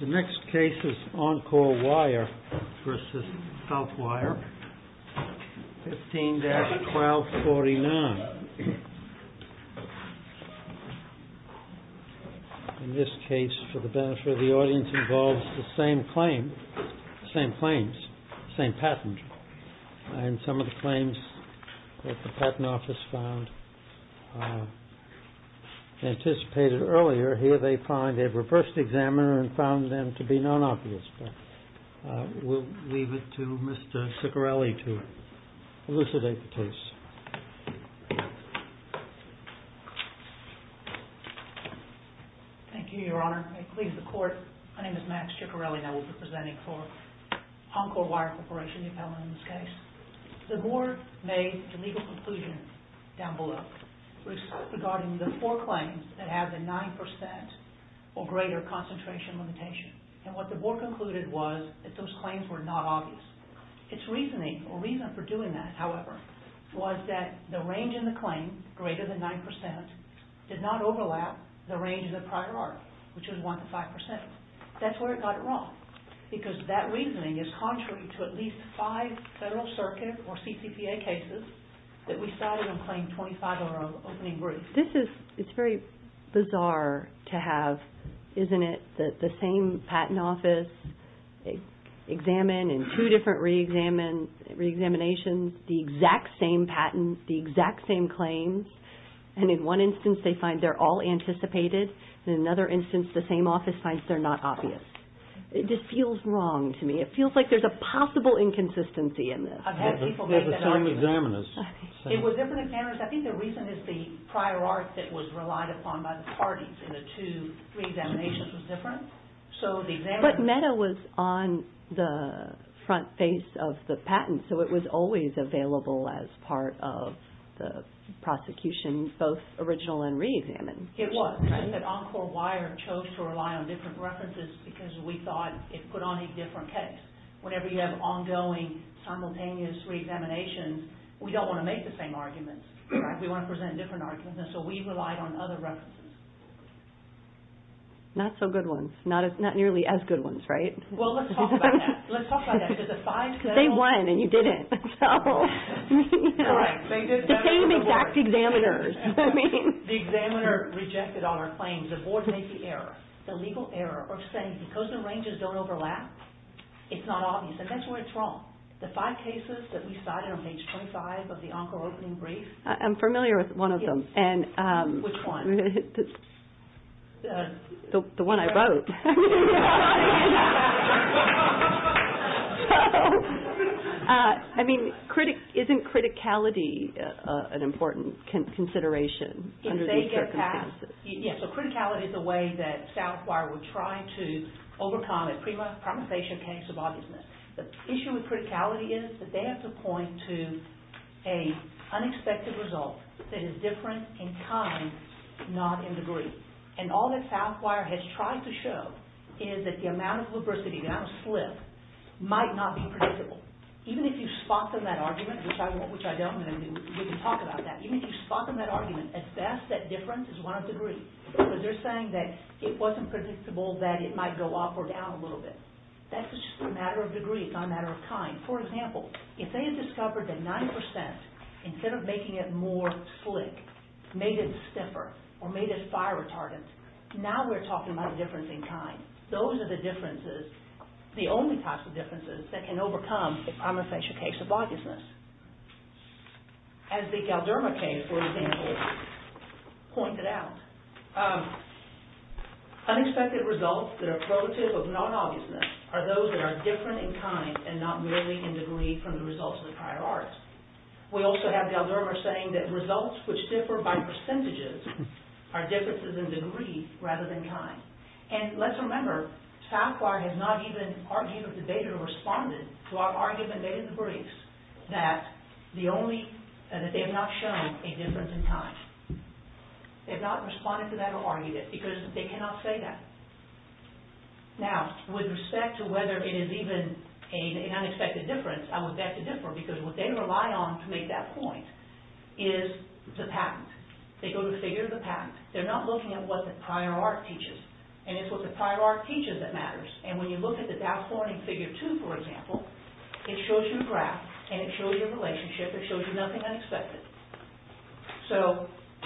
The next case is Encore Wire v. Southwire, 15-1249. In this case, for the benefit of the audience, involves the same claim, same claims, same patent. And some of the claims that the Patent Office found anticipated earlier, here they find a reversed examiner and found them to be non-obvious. We'll leave it to Mr. Ciccarelli to elucidate the case. Thank you, Your Honor. My name is Max Ciccarelli and I will be presenting for Encore Wire Corporation, the appellant in this case. The Board made a legal conclusion down below regarding the four claims that have a 9% or greater concentration limitation. And what the Board concluded was that those claims were not obvious. Its reasoning or reason for doing that, however, was that the range in the claim, greater than 9%, did not overlap the range in the prior article, which was 1-5%. That's where it got it wrong. Because that reasoning is contrary to at least five Federal Circuit or CCPA cases that we cited in Claim 25-0 opening brief. This is very bizarre to have, isn't it? The same Patent Office examined in two different re-examinations the exact same patent, the exact same claims. And in one instance, they find they're all anticipated. In another instance, the same office finds they're not obvious. It just feels wrong to me. It feels like there's a possible inconsistency in this. I've had people make that argument. It was different examiners. I think the reason is the prior art that was relied upon by the parties in the two re-examinations was different. But MEDA was on the front face of the patent, so it was always available as part of the prosecution, both original and re-examined. It was, but Encore Wire chose to rely on different references because we thought it put on a different case. Whenever you have ongoing, simultaneous re-examinations, we don't want to make the same arguments. We want to present different arguments, so we relied on other references. Not so good ones. Not nearly as good ones, right? Well, let's talk about that. Let's talk about that. They won, and you didn't. The same exact examiners. The examiner rejected all our claims. The board made the error. The legal error of saying, because the ranges don't overlap, it's not obvious, and that's where it's wrong. The five cases that we cited on page 25 of the Encore opening brief. I'm familiar with one of them. Which one? The one I wrote. I mean, isn't criticality an important consideration under these circumstances? Yes, so criticality is a way that Southwire would try to overcome a pre-promulgation case of obviousness. The issue with criticality is that they have to point to an unexpected result that is different in kind, not in degree. And all that Southwire has tried to show is that the amount of lubricity, the amount of slip, might not be predictable. Even if you spot them that argument, which I don't, and we can talk about that. Even if you spot them that argument, as best that difference is one of degree. Because they're saying that it wasn't predictable that it might go up or down a little bit. That's just a matter of degree, it's not a matter of kind. For example, if they had discovered that 9%, instead of making it more slick, made it stiffer, or made it fire retardant, now we're talking about a difference in kind. Those are the differences, the only types of differences, that can overcome a pre-promulgation case of obviousness. As the Galderma case, for example, pointed out, unexpected results that are prototype of non-obviousness are those that are different in kind and not merely in degree from the results of the prior art. We also have Galderma saying that results which differ by percentages are differences in degree rather than kind. And let's remember, Southwire has not even argued or debated or responded to our argument in the briefs that they have not shown a difference in kind. They have not responded to that or argued it, because they cannot say that. Now, with respect to whether it is even an unexpected difference, I would bet the difference, because what they rely on to make that point, is the patent. They go to the figure of the patent. They're not looking at what the prior art teaches. And it's what the prior art teaches that matters. And when you look at the DAS warning figure 2, for example, it shows you a graph, and it shows you a relationship, it shows you nothing unexpected. So,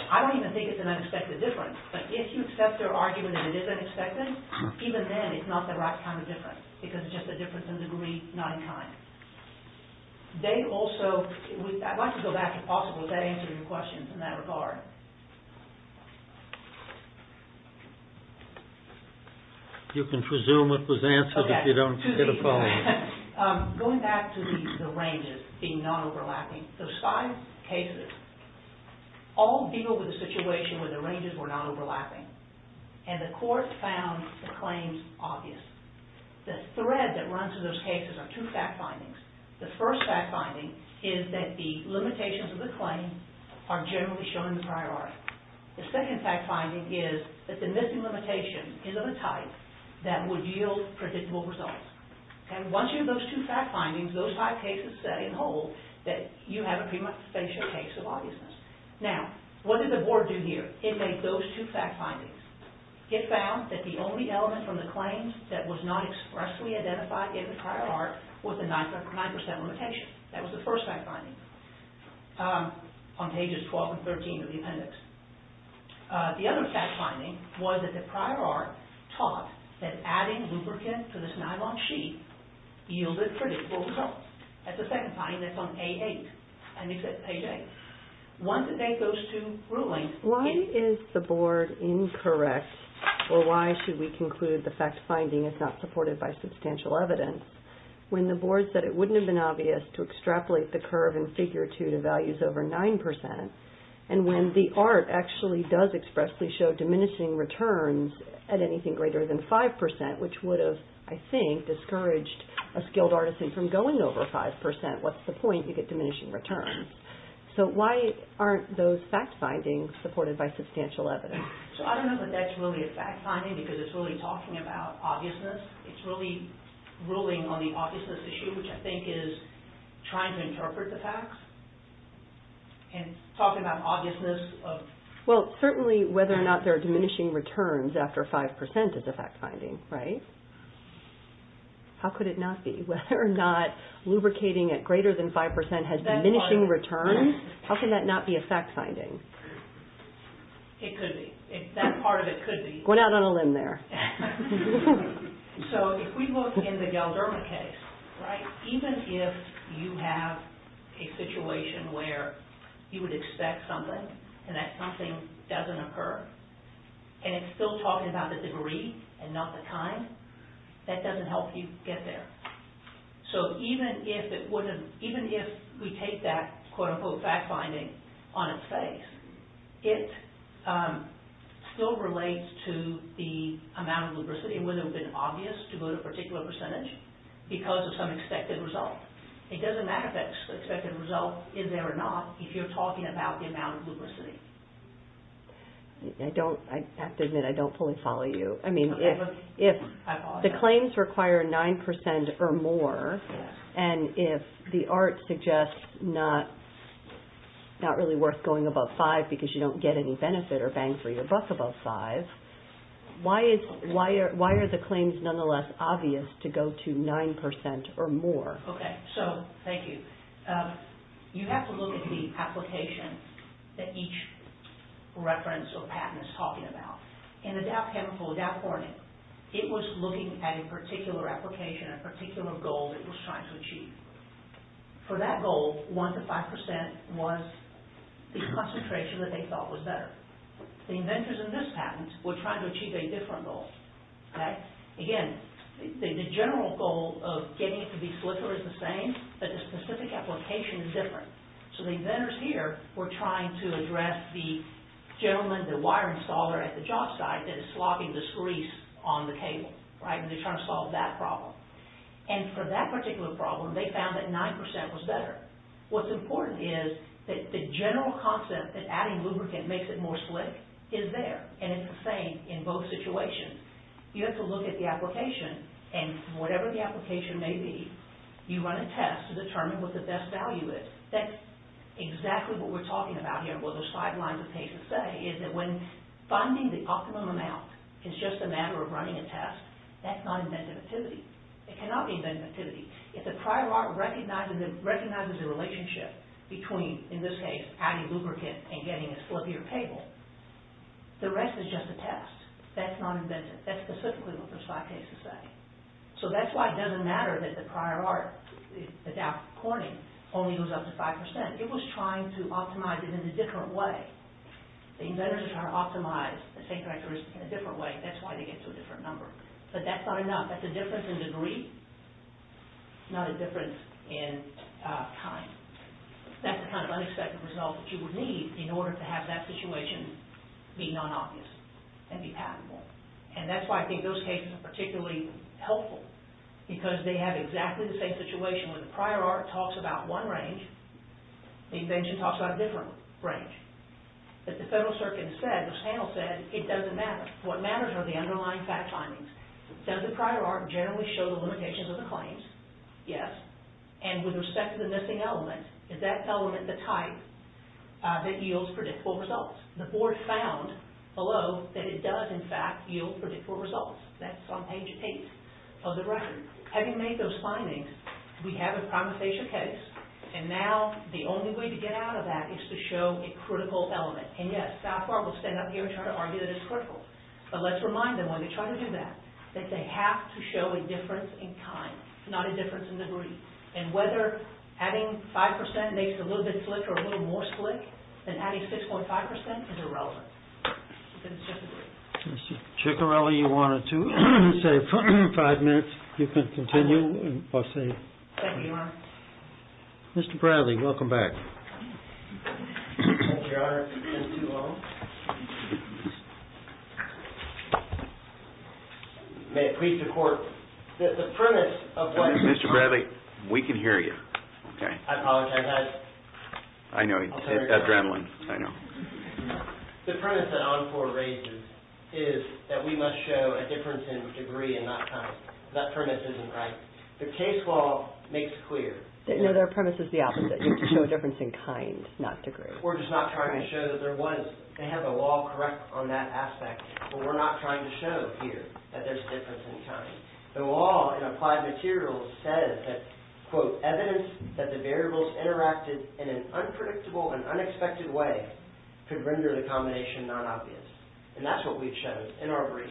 I don't even think it's an unexpected difference. But if you accept their argument that it is unexpected, even then it's not the right kind of difference, because it's just a difference in degree, not in kind. They also, I'd like to go back, if possible, if that answers your question in that regard. You can presume it was answered if you don't get a follow-up. Going back to the ranges being non-overlapping, those five cases all deal with a situation where the ranges were not overlapping. And the court found the claims obvious. The thread that runs through those cases are two fact findings. The first fact finding is that the limitations of the claim are generally shown in the prior art. The second fact finding is that the missing limitation is of a type that would yield predictable results. And once you have those two fact findings, those five cases set in whole, that you have a pretty much spatial case of obviousness. Now, what did the board do here? It made those two fact findings. It found that the only element from the claims that was not expressly identified in the prior art was the 9% limitation. That was the first fact finding on pages 12 and 13 of the appendix. The other fact finding was that the prior art taught that adding lubricant to this nylon sheet yielded predictable results. That's the second finding that's on page 8. Once it made those two rulings... Why is the board incorrect, or why should we conclude the fact finding is not supported by substantial evidence, when the board said it wouldn't have been obvious to extrapolate the curve in Figure 2 to values over 9%, and when the art actually does expressly show diminishing returns at anything greater than 5%, which would have, I think, discouraged a skilled artisan from going over 5%. What's the point? You get diminishing returns. So, why aren't those fact findings supported by substantial evidence? So, I don't know that that's really a fact finding because it's really talking about obviousness. It's really ruling on the obviousness issue, which I think is trying to interpret the facts. And talking about obviousness of... Well, certainly, whether or not there are diminishing returns after 5% is a fact finding, right? How could it not be? Whether or not lubricating at greater than 5% has diminishing returns? How can that not be a fact finding? It could be. That part of it could be. Going out on a limb there. So, if we look in the Galderma case, right, even if you have a situation where you would expect something and that something doesn't occur, and it's still talking about the degree and not the time, that doesn't help you get there. So, even if we take that quote-unquote fact finding on its face, it still relates to the amount of lubricity and whether it would have been obvious to go to a particular percentage because of some expected result. It doesn't matter if that expected result is there or not if you're talking about the amount of lubricity. I have to admit, I don't fully follow you. I follow you. The claims require 9% or more, and if the ART suggests not really worth going above 5% because you don't get any benefit or bang for your buck above 5%, why are the claims nonetheless obvious to go to 9% or more? Okay. So, thank you. You have to look at the application that each reference or patent is talking about. In the Dow Chemical, Dow Corning, it was looking at a particular application, a particular goal it was trying to achieve. For that goal, 1% to 5% was the concentration that they thought was better. The inventors in this patent were trying to achieve a different goal. Again, the general goal of getting it to be slicker is the same, but the specific application is different. So, the inventors here were trying to address the gentleman, the wire installer at the job site that is slogging this grease on the cable, right? And they're trying to solve that problem. And for that particular problem, they found that 9% was better. What's important is that the general concept that adding lubricant makes it more slick is there, and it's the same in both situations. You have to look at the application, and whatever the application may be, you run a test to determine what the best value is. That's exactly what we're talking about here, what those five lines of cases say, is that when finding the optimum amount, it's just a matter of running a test, that's not inventive activity. It cannot be inventive activity. If the prior art recognizes the relationship between, in this case, adding lubricant and getting a slippier cable, the rest is just a test. That's not inventive. That's specifically what those five cases say. So that's why it doesn't matter that the prior art, the DAP corning, only goes up to 5%. It was trying to optimize it in a different way. The inventors are trying to optimize the same characteristics in a different way. That's why they get to a different number. But that's not enough. That's a difference in degree, not a difference in time. That's the kind of unexpected result that you would need in order to have that situation be non-obvious and be patentable. And that's why I think those cases are particularly helpful, because they have exactly the same situation. When the prior art talks about one range, the invention talks about a different range. But the Federal Circuit said, the panel said, it doesn't matter. What matters are the underlying fact findings. Does the prior art generally show the limitations of the claims? Yes. And with respect to the missing element, is that element the type that yields predictable results? The board found below that it does, in fact, yield predictable results. That's on page 8 of the record. Having made those findings, we have a compensation case, and now the only way to get out of that is to show a critical element. And yes, South Park will stand up here and try to argue that it's critical. But let's remind them when they try to do that that they have to show a difference in time, not a difference in degree. And whether adding 5% makes it a little bit slick or a little more slick than adding 6.5% is irrelevant. Chickarelli, you wanted to say five minutes. You can continue. Thank you, Your Honor. Mr. Bradley, welcome back. Thank you, Your Honor. It's been too long. May it please the Court that the premise of what Mr. Bradley Mr. Bradley, we can hear you. I apologize. I know. Adrenaline. I know. The premise that Encore raises is that we must show a difference in degree and not time. That premise isn't right. The case law makes clear. No, their premise is the opposite. You have to show a difference in kind, not degree. We're just not trying to show that there was. They have the law correct on that aspect, but we're not trying to show here that there's a difference in time. The law in Applied Materials says that, quote, evidence that the variables interacted in an unpredictable and unexpected way could render the combination non-obvious. And that's what we've shown in our briefs.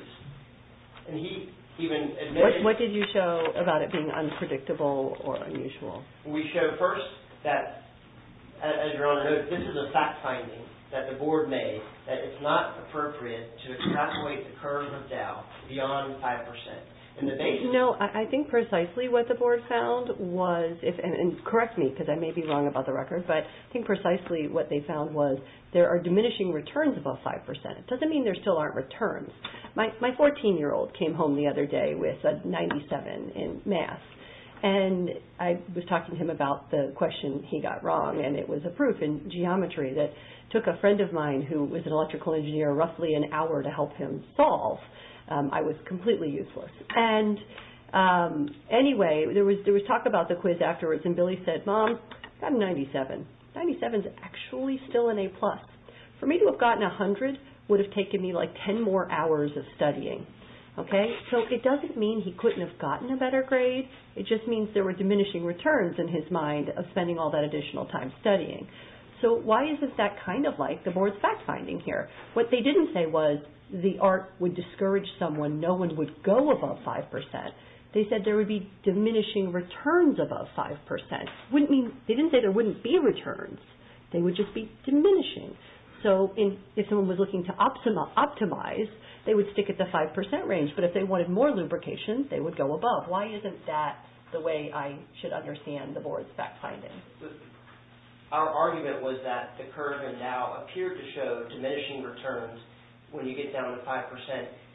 What did you show about it being unpredictable or unusual? We showed first that, as Your Honor noted, this is a fact finding that the Board made that it's not appropriate to exacerbate the curve of doubt beyond 5%. No, I think precisely what the Board found was, and correct me, because I may be wrong about the record, but I think precisely what they found was there are diminishing returns above 5%. It doesn't mean there still aren't returns. My 14-year-old came home the other day with a 97 in math, and I was talking to him about the question he got wrong, and it was a proof in geometry that took a friend of mine who was an electrical engineer roughly an hour to help him solve. I was completely useless. And anyway, there was talk about the quiz afterwards, and Billy said, Mom, I got a 97. 97 is actually still an A+. For me to have gotten 100 would have taken me like 10 more hours of studying. Okay? So it doesn't mean he couldn't have gotten a better grade. It just means there were diminishing returns in his mind of spending all that additional time studying. So why isn't that kind of like the Board's fact-finding here? What they didn't say was the art would discourage someone. No one would go above 5%. They said there would be diminishing returns above 5%. They didn't say there wouldn't be returns. They would just be diminishing. So if someone was looking to optimize, they would stick at the 5% range, but if they wanted more lubrication, they would go above. Why isn't that the way I should understand the Board's fact-finding? Our argument was that the curve in Dow appeared to show diminishing returns when you get down to 5%.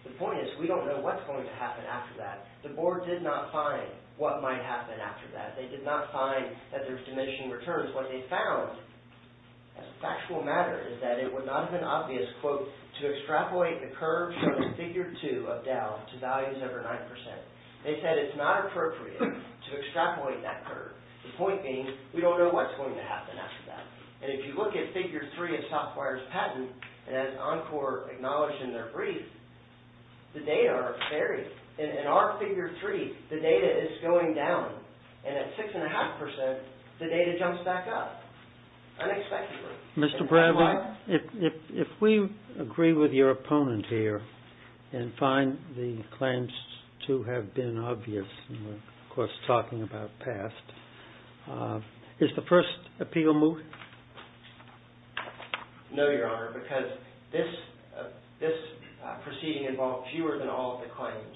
The point is we don't know what's going to happen after that. The Board did not find what might happen after that. They did not find that there's diminishing returns. What they found, as a factual matter, is that it would not have been obvious, quote, to extrapolate the curve shown in Figure 2 of Dow to values over 9%. They said it's not appropriate to extrapolate that curve. The point being we don't know what's going to happen after that. And if you look at Figure 3 of Southwire's patent, and as Encore acknowledged in their brief, the data are varied. In our Figure 3, the data is going down, and at 6.5%, the data jumps back up unexpectedly. Mr. Bradley, if we agree with your opponent here and find the claims to have been obvious, and we're, of course, talking about past, is the first appeal moot? No, Your Honor, because this proceeding involved fewer than all of the claims.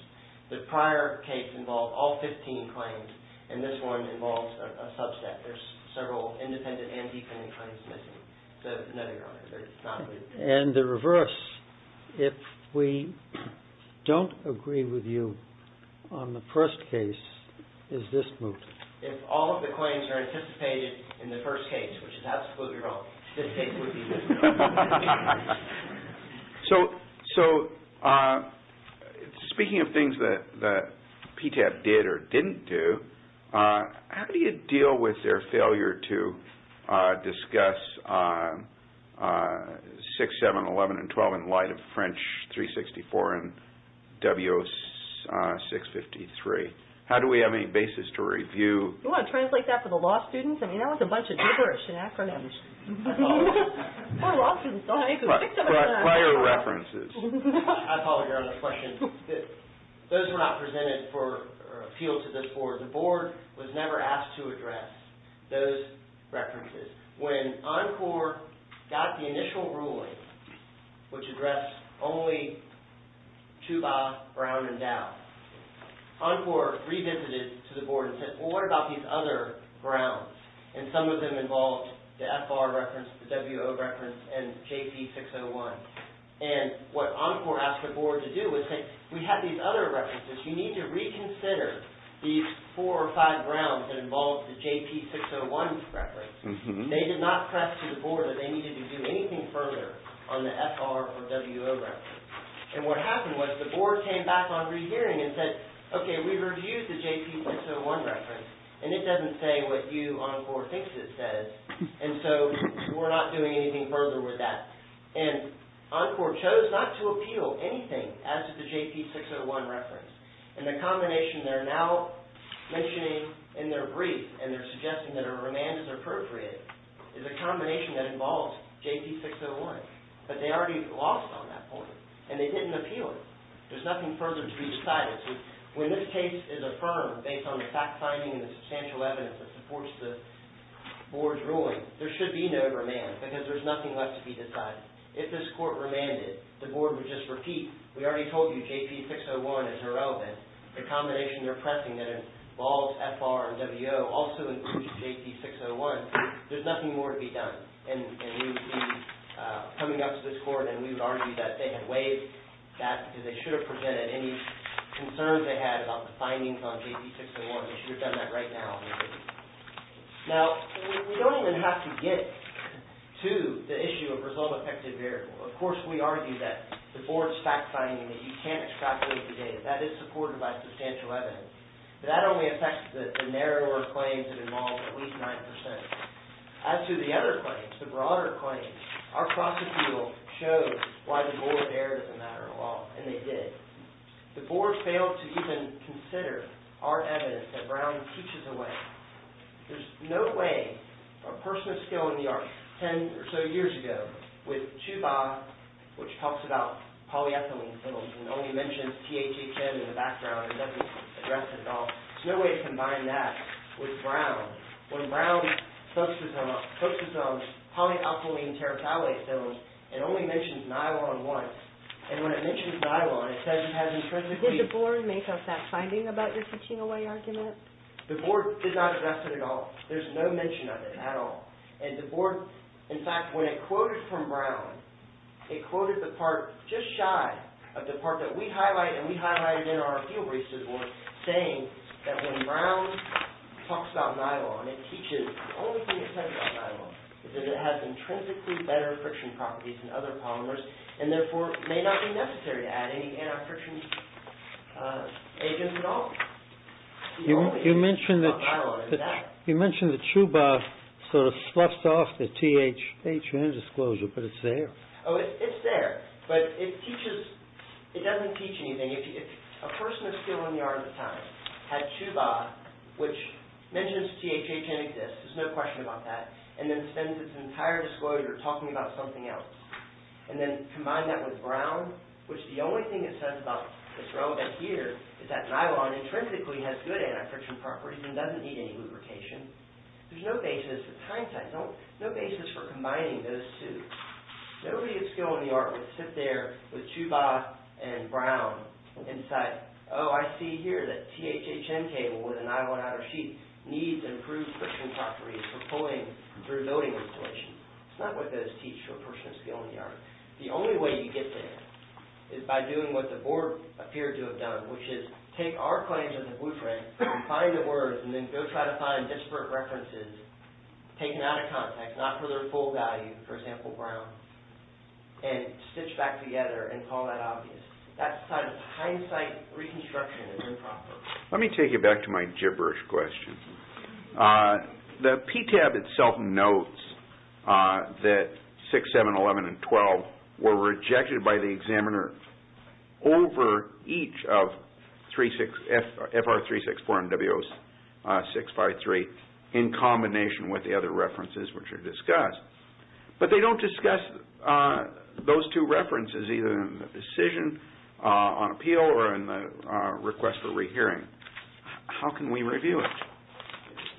The prior case involved all 15 claims, and this one involves a subset. There's several independent and defendant claims missing. So no, Your Honor, it's not moot. And the reverse. If we don't agree with you on the first case, is this moot? If all of the claims are anticipated in the first case, which is absolutely wrong, this case would be moot. So speaking of things that PTAP did or didn't do, how do you deal with their failure to discuss 6, 7, 11, and 12 in light of French 364 and W0653? How do we have any basis to review? You want to translate that for the law students? I mean, that was a bunch of gibberish and acronyms. Poor law students don't have any basis. But prior references. I apologize for the question. Those were not presented for appeal to this Board. The Board was never asked to address those references. When Encore got the initial ruling, which addressed only Chuba, Brown, and Dow, Encore revisited to the Board and said, well, what about these other Browns? And some of them involved the FR reference, the WO reference, and JP601. And what Encore asked the Board to do was say, we have these other references. You need to reconsider these four or five Browns that involved the JP601 reference. They did not press to the Board that they needed to do anything further on the FR or WO reference. And what happened was the Board came back on rehearing and said, okay, we reviewed the JP601 reference, and it doesn't say what you, Encore, think it says. And so we're not doing anything further with that. And Encore chose not to appeal anything as to the JP601 reference. And the combination they're now mentioning in their brief, and they're suggesting that a remand is appropriate, is a combination that involves JP601. But they already lost on that point. And they didn't appeal it. There's nothing further to be decided. So when this case is affirmed, based on the fact-finding and the substantial evidence that supports the Board's ruling, there should be no remand because there's nothing left to be decided. If this Court remanded, the Board would just repeat, we already told you JP601 is irrelevant. The combination they're pressing that involves FR and WO also includes JP601. There's nothing more to be done. And we would be coming up to this Court and we would argue that they had waived that because they should have presented any concerns they had about the findings on JP601. They should have done that right now. Now, we don't even have to get to the issue of result-affected variable. Of course, we argue that the Board's fact-finding that you can't extrapolate the data, that is supported by substantial evidence. But that only affects the narrower claims that involve at least 9%. As to the other claims, the broader claims, our prosecutorial showed why the Board erred in that regard, and they did. The Board failed to even consider our evidence that Brown teaches away. There's no way a person of skill in the arts, 10 or so years ago, with Chuba, which talks about polyethylene fiddles and only mentions THHN in the background and doesn't address it at all, there's no way to combine that with Brown. When Brown focuses on polyethylene terephthalate fiddles, it only mentions nylon once. And when it mentions nylon, it says it has intrinsically... Did the Board make a fact-finding about your teaching away argument? The Board did not address it at all. There's no mention of it at all. And the Board, in fact, when it quoted from Brown, it quoted the part just shy of the part that we highlight, and we highlighted in our field research report, saying that when Brown talks about nylon, it teaches. The only thing it says about nylon is that it has intrinsically better friction properties than other polymers, and therefore may not be necessary to add any friction agents at all. The only thing it says about nylon is that. You mentioned that Chuba sort of sloughs off the THHN disclosure, but it's there. Oh, it's there, but it doesn't teach anything. If a person of skill in the arts at the time had Chuba, which mentions THHN exists, there's no question about that, and then spends its entire disclosure talking about something else. And then combine that with Brown, which the only thing it says about that's relevant here is that nylon intrinsically has good anti-friction properties and doesn't need any lubrication. There's no basis for combining those two. Nobody of skill in the arts would sit there with Chuba and Brown and say, Oh, I see here that THHN cable with a nylon outer sheet needs improved friction properties for pulling through building installations. It's not what those teach to a person of skill in the arts. The only way you get there is by doing what the board appeared to have done, which is take our claims as a blueprint, find the words, and then go try to find disparate references taken out of context, not for their full value, for example, Brown, and stitch back together and call that obvious. That kind of hindsight reconstruction is improper. Let me take you back to my gibberish question. The PTAB itself notes that 6, 7, 11, and 12 were rejected by the examiner over each of FR364 and W0653 in combination with the other references which are discussed. They don't discuss those two references either in the decision on appeal or in the request for rehearing. How can we review it?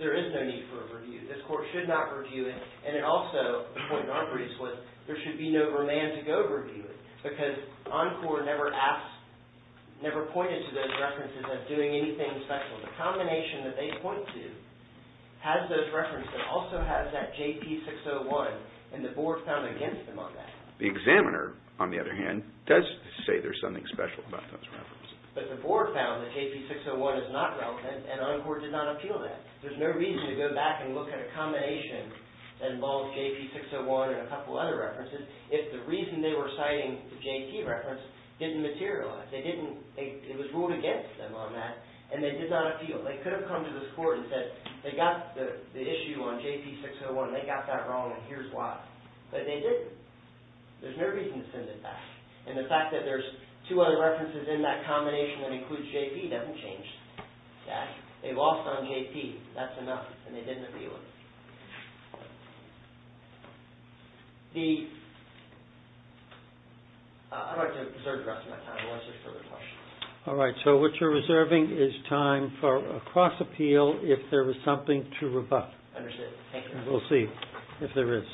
There is no need for a review. This court should not review it. Also, the point in our brief was there should be no romantic overview because Encore never pointed to those references as doing anything special. The combination that they point to has those references and also has that JP601 and the board found against them on that. The examiner, on the other hand, does say there's something special about those references. But the board found that JP601 is not relevant and Encore did not appeal that. There's no reason to go back and look at a combination that involves JP601 and a couple other references if the reason they were citing the JP reference didn't materialize. It was ruled against them on that and they did not appeal it. They could have come to this court and said they got the issue on JP601. They got that wrong and here's why. But they didn't. There's no reason to send it back. And the fact that there's two other references in that combination that includes JP doesn't change that. They lost on JP. That's enough. And they didn't appeal it. I'd like to reserve the rest of my time unless there's further questions. All right. So what you're reserving is time for a cross-appeal if there was something to rebut. Understood. Thank you. We'll see if there is.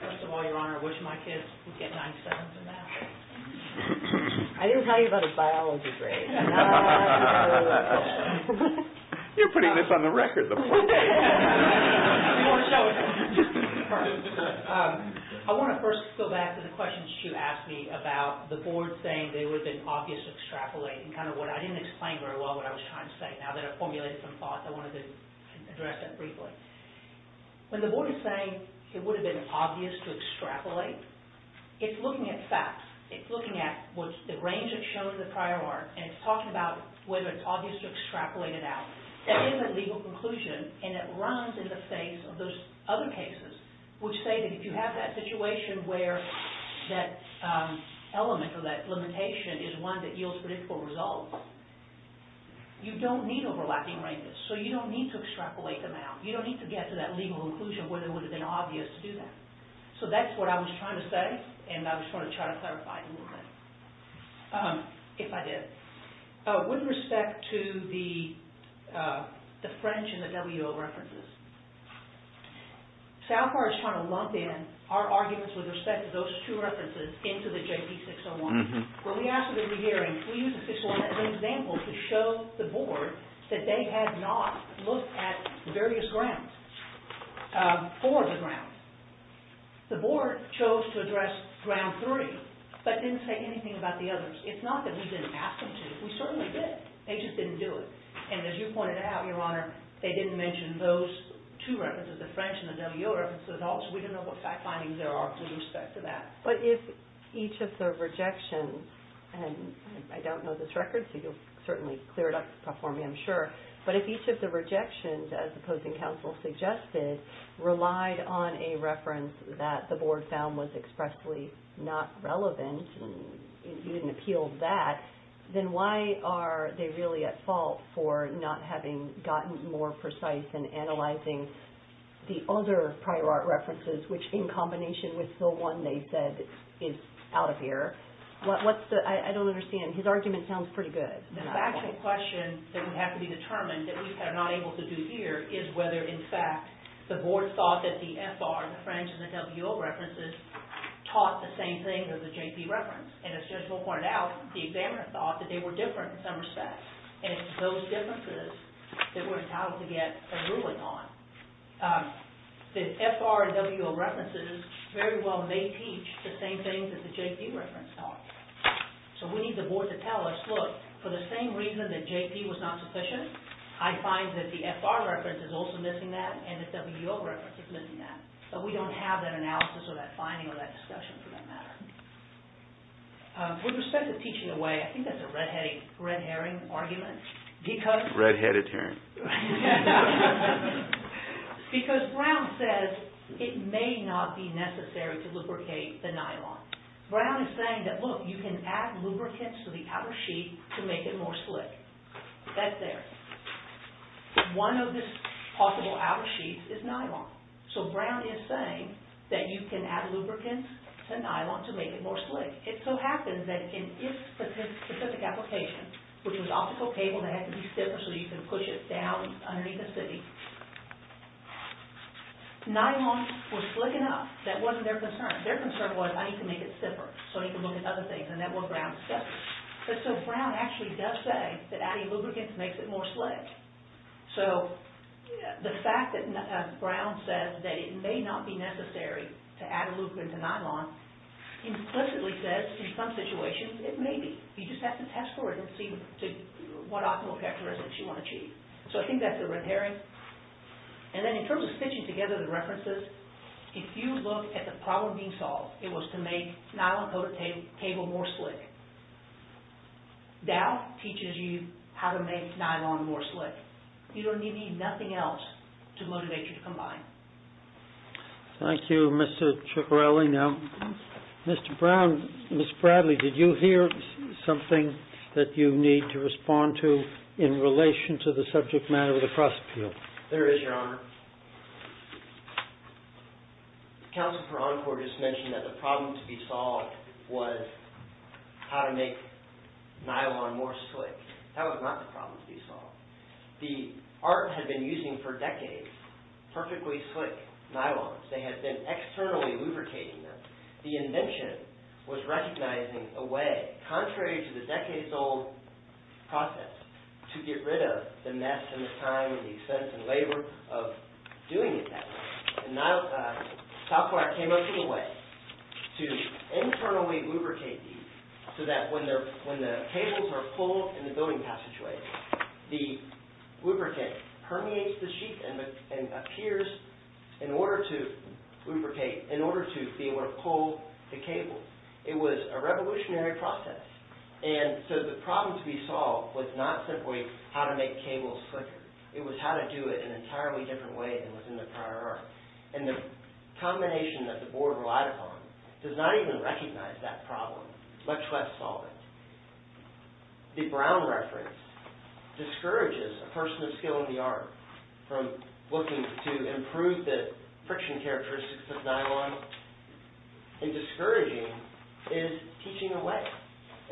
First of all, Your Honor, I wish my kids would get 97s in math. I didn't tell you about his biology grades. You're putting this on the record. I want to first go back to the questions you asked me about the board saying it would have been obvious to extrapolate. And kind of what I didn't explain very well what I was trying to say. Now that I've formulated some thoughts, I wanted to address that briefly. When the board is saying it would have been obvious to extrapolate, it's looking at facts. It's looking at the range that shows the prior art and it's talking about whether it's obvious to extrapolate it out. That is a legal conclusion and it runs in the face of those other cases which say that if you have that situation where that element or that limitation is one that yields predictable results, you don't need overlapping ranges. So you don't need to extrapolate them out. You don't need to get to that legal conclusion where it would have been obvious to do that. So that's what I was trying to say and I was trying to clarify it a little bit, if I did. With respect to the French and the W.O. references, Salfar is trying to lump in our arguments with respect to those two references into the J.P. 601. When we asked for the re-hearing, we used the 601 as an example to show the board that they had not looked at the various grounds, four of the grounds. The board chose to address ground three but didn't say anything about the others. It's not that we didn't ask them to. We certainly did. They just didn't do it. And as you pointed out, Your Honor, they didn't mention those two references, the French and the W.O. references at all. So we don't know what fact findings there are with respect to that. But if each of the rejections, and I don't know this record so you'll certainly clear it up for me, I'm sure. But if each of the rejections, as the opposing counsel suggested, relied on a reference that the board found was expressly not relevant, and you didn't appeal that, then why are they really at fault for not having gotten more precise in analyzing the other prior art references, which in combination with the one they said is out of here? I don't understand. His argument sounds pretty good. The factual question that would have to be determined that we are not able to do here is whether, in fact, the board thought that the F.R., the French, and the W.O. references taught the same thing as the J.P. reference. And as Judge Will pointed out, the examiner thought that they were different in some respects. And it's those differences that we're entitled to get a ruling on. The F.R. and W.O. references very well may teach the same things that the J.P. reference taught. So we need the board to tell us, look, for the same reason that J.P. was not sufficient, I find that the F.R. reference is also missing that and the W.O. reference is missing that. But we don't have that analysis or that finding or that discussion for that matter. With respect to teaching away, I think that's a red-headed, red herring argument. Red-headed herring. Because Brown says it may not be necessary to lubricate the nylon. Brown is saying that, look, you can add lubricants to the outer sheet to make it more slick. That's there. One of the possible outer sheets is nylon. So Brown is saying that you can add lubricants to nylon to make it more slick. It so happens that in its specific application, which was optical cable that had to be stiffer so you could push it down underneath the city, nylon was slick enough. That wasn't their concern. Their concern was, I need to make it stiffer so I can look at other things and network around the stuff. So Brown actually does say that adding lubricants makes it more slick. So the fact that Brown says that it may not be necessary to add lubricants to nylon implicitly says, in some situations, it may be. You just have to test for it and see what optimal characteristics you want to achieve. So I think that's the red herring. And then in terms of stitching together the references, if you look at the problem being solved, it was to make nylon coated cable more slick. Dow teaches you how to make nylon more slick. You don't need anything else to motivate you to combine. Thank you, Mr. Ciccarelli. Mr. Brown, Ms. Bradley, did you hear something that you need to respond to in relation to the subject matter of the cross-appeal? There is, Your Honor. Counsel for Encore just mentioned that the problem to be solved was how to make nylon more slick. That was not the problem to be solved. The art had been using, for decades, perfectly slick nylons. They had been externally lubricating them. The invention was recognizing a way, contrary to the decades-old process, to get rid of the mess and the time and the expense and labor of doing it that way. Software came up with a way to internally lubricate these so that when the cables are pulled in the building passageway, the lubricant permeates the sheet and appears in order to be able to pull the cables. It was a revolutionary process. And so the problem to be solved was not simply how to make cables slicker. It was how to do it in an entirely different way than was in the prior art. And the combination that the board relied upon does not even recognize that problem, much less solve it. The Brown reference discourages a person of skill in the art from looking to improve the friction characteristics of nylon. And discouraging is teaching away.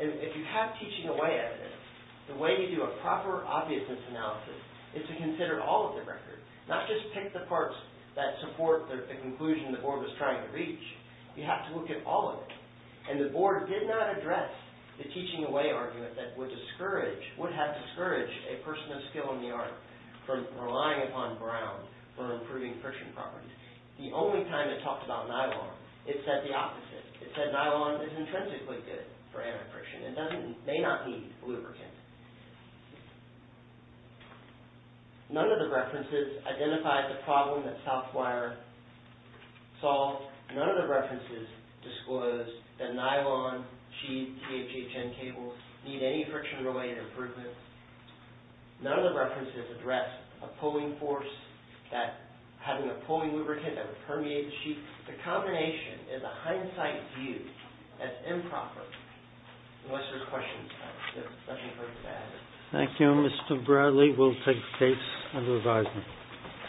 And if you have teaching away evidence, the way you do a proper obviousness analysis is to consider all of the record. Not just pick the parts that support the conclusion the board was trying to reach. You have to look at all of it. And the board did not address the teaching away argument that would have discouraged a person of skill in the art from relying upon Brown for improving friction properties. The only time it talked about nylon, it said the opposite. It said nylon is intrinsically good for antifriction. It may not need lubricant. None of the references identified the problem that Southwire solved. None of the references disclosed that nylon sheet THHN cables need any friction related improvements. None of the references addressed a pulling force, having a pulling lubricant that would permeate the sheet. The combination is a hindsight view as improper. What's your question? Thank you Mr. Bradley. We'll take tapes and revise them.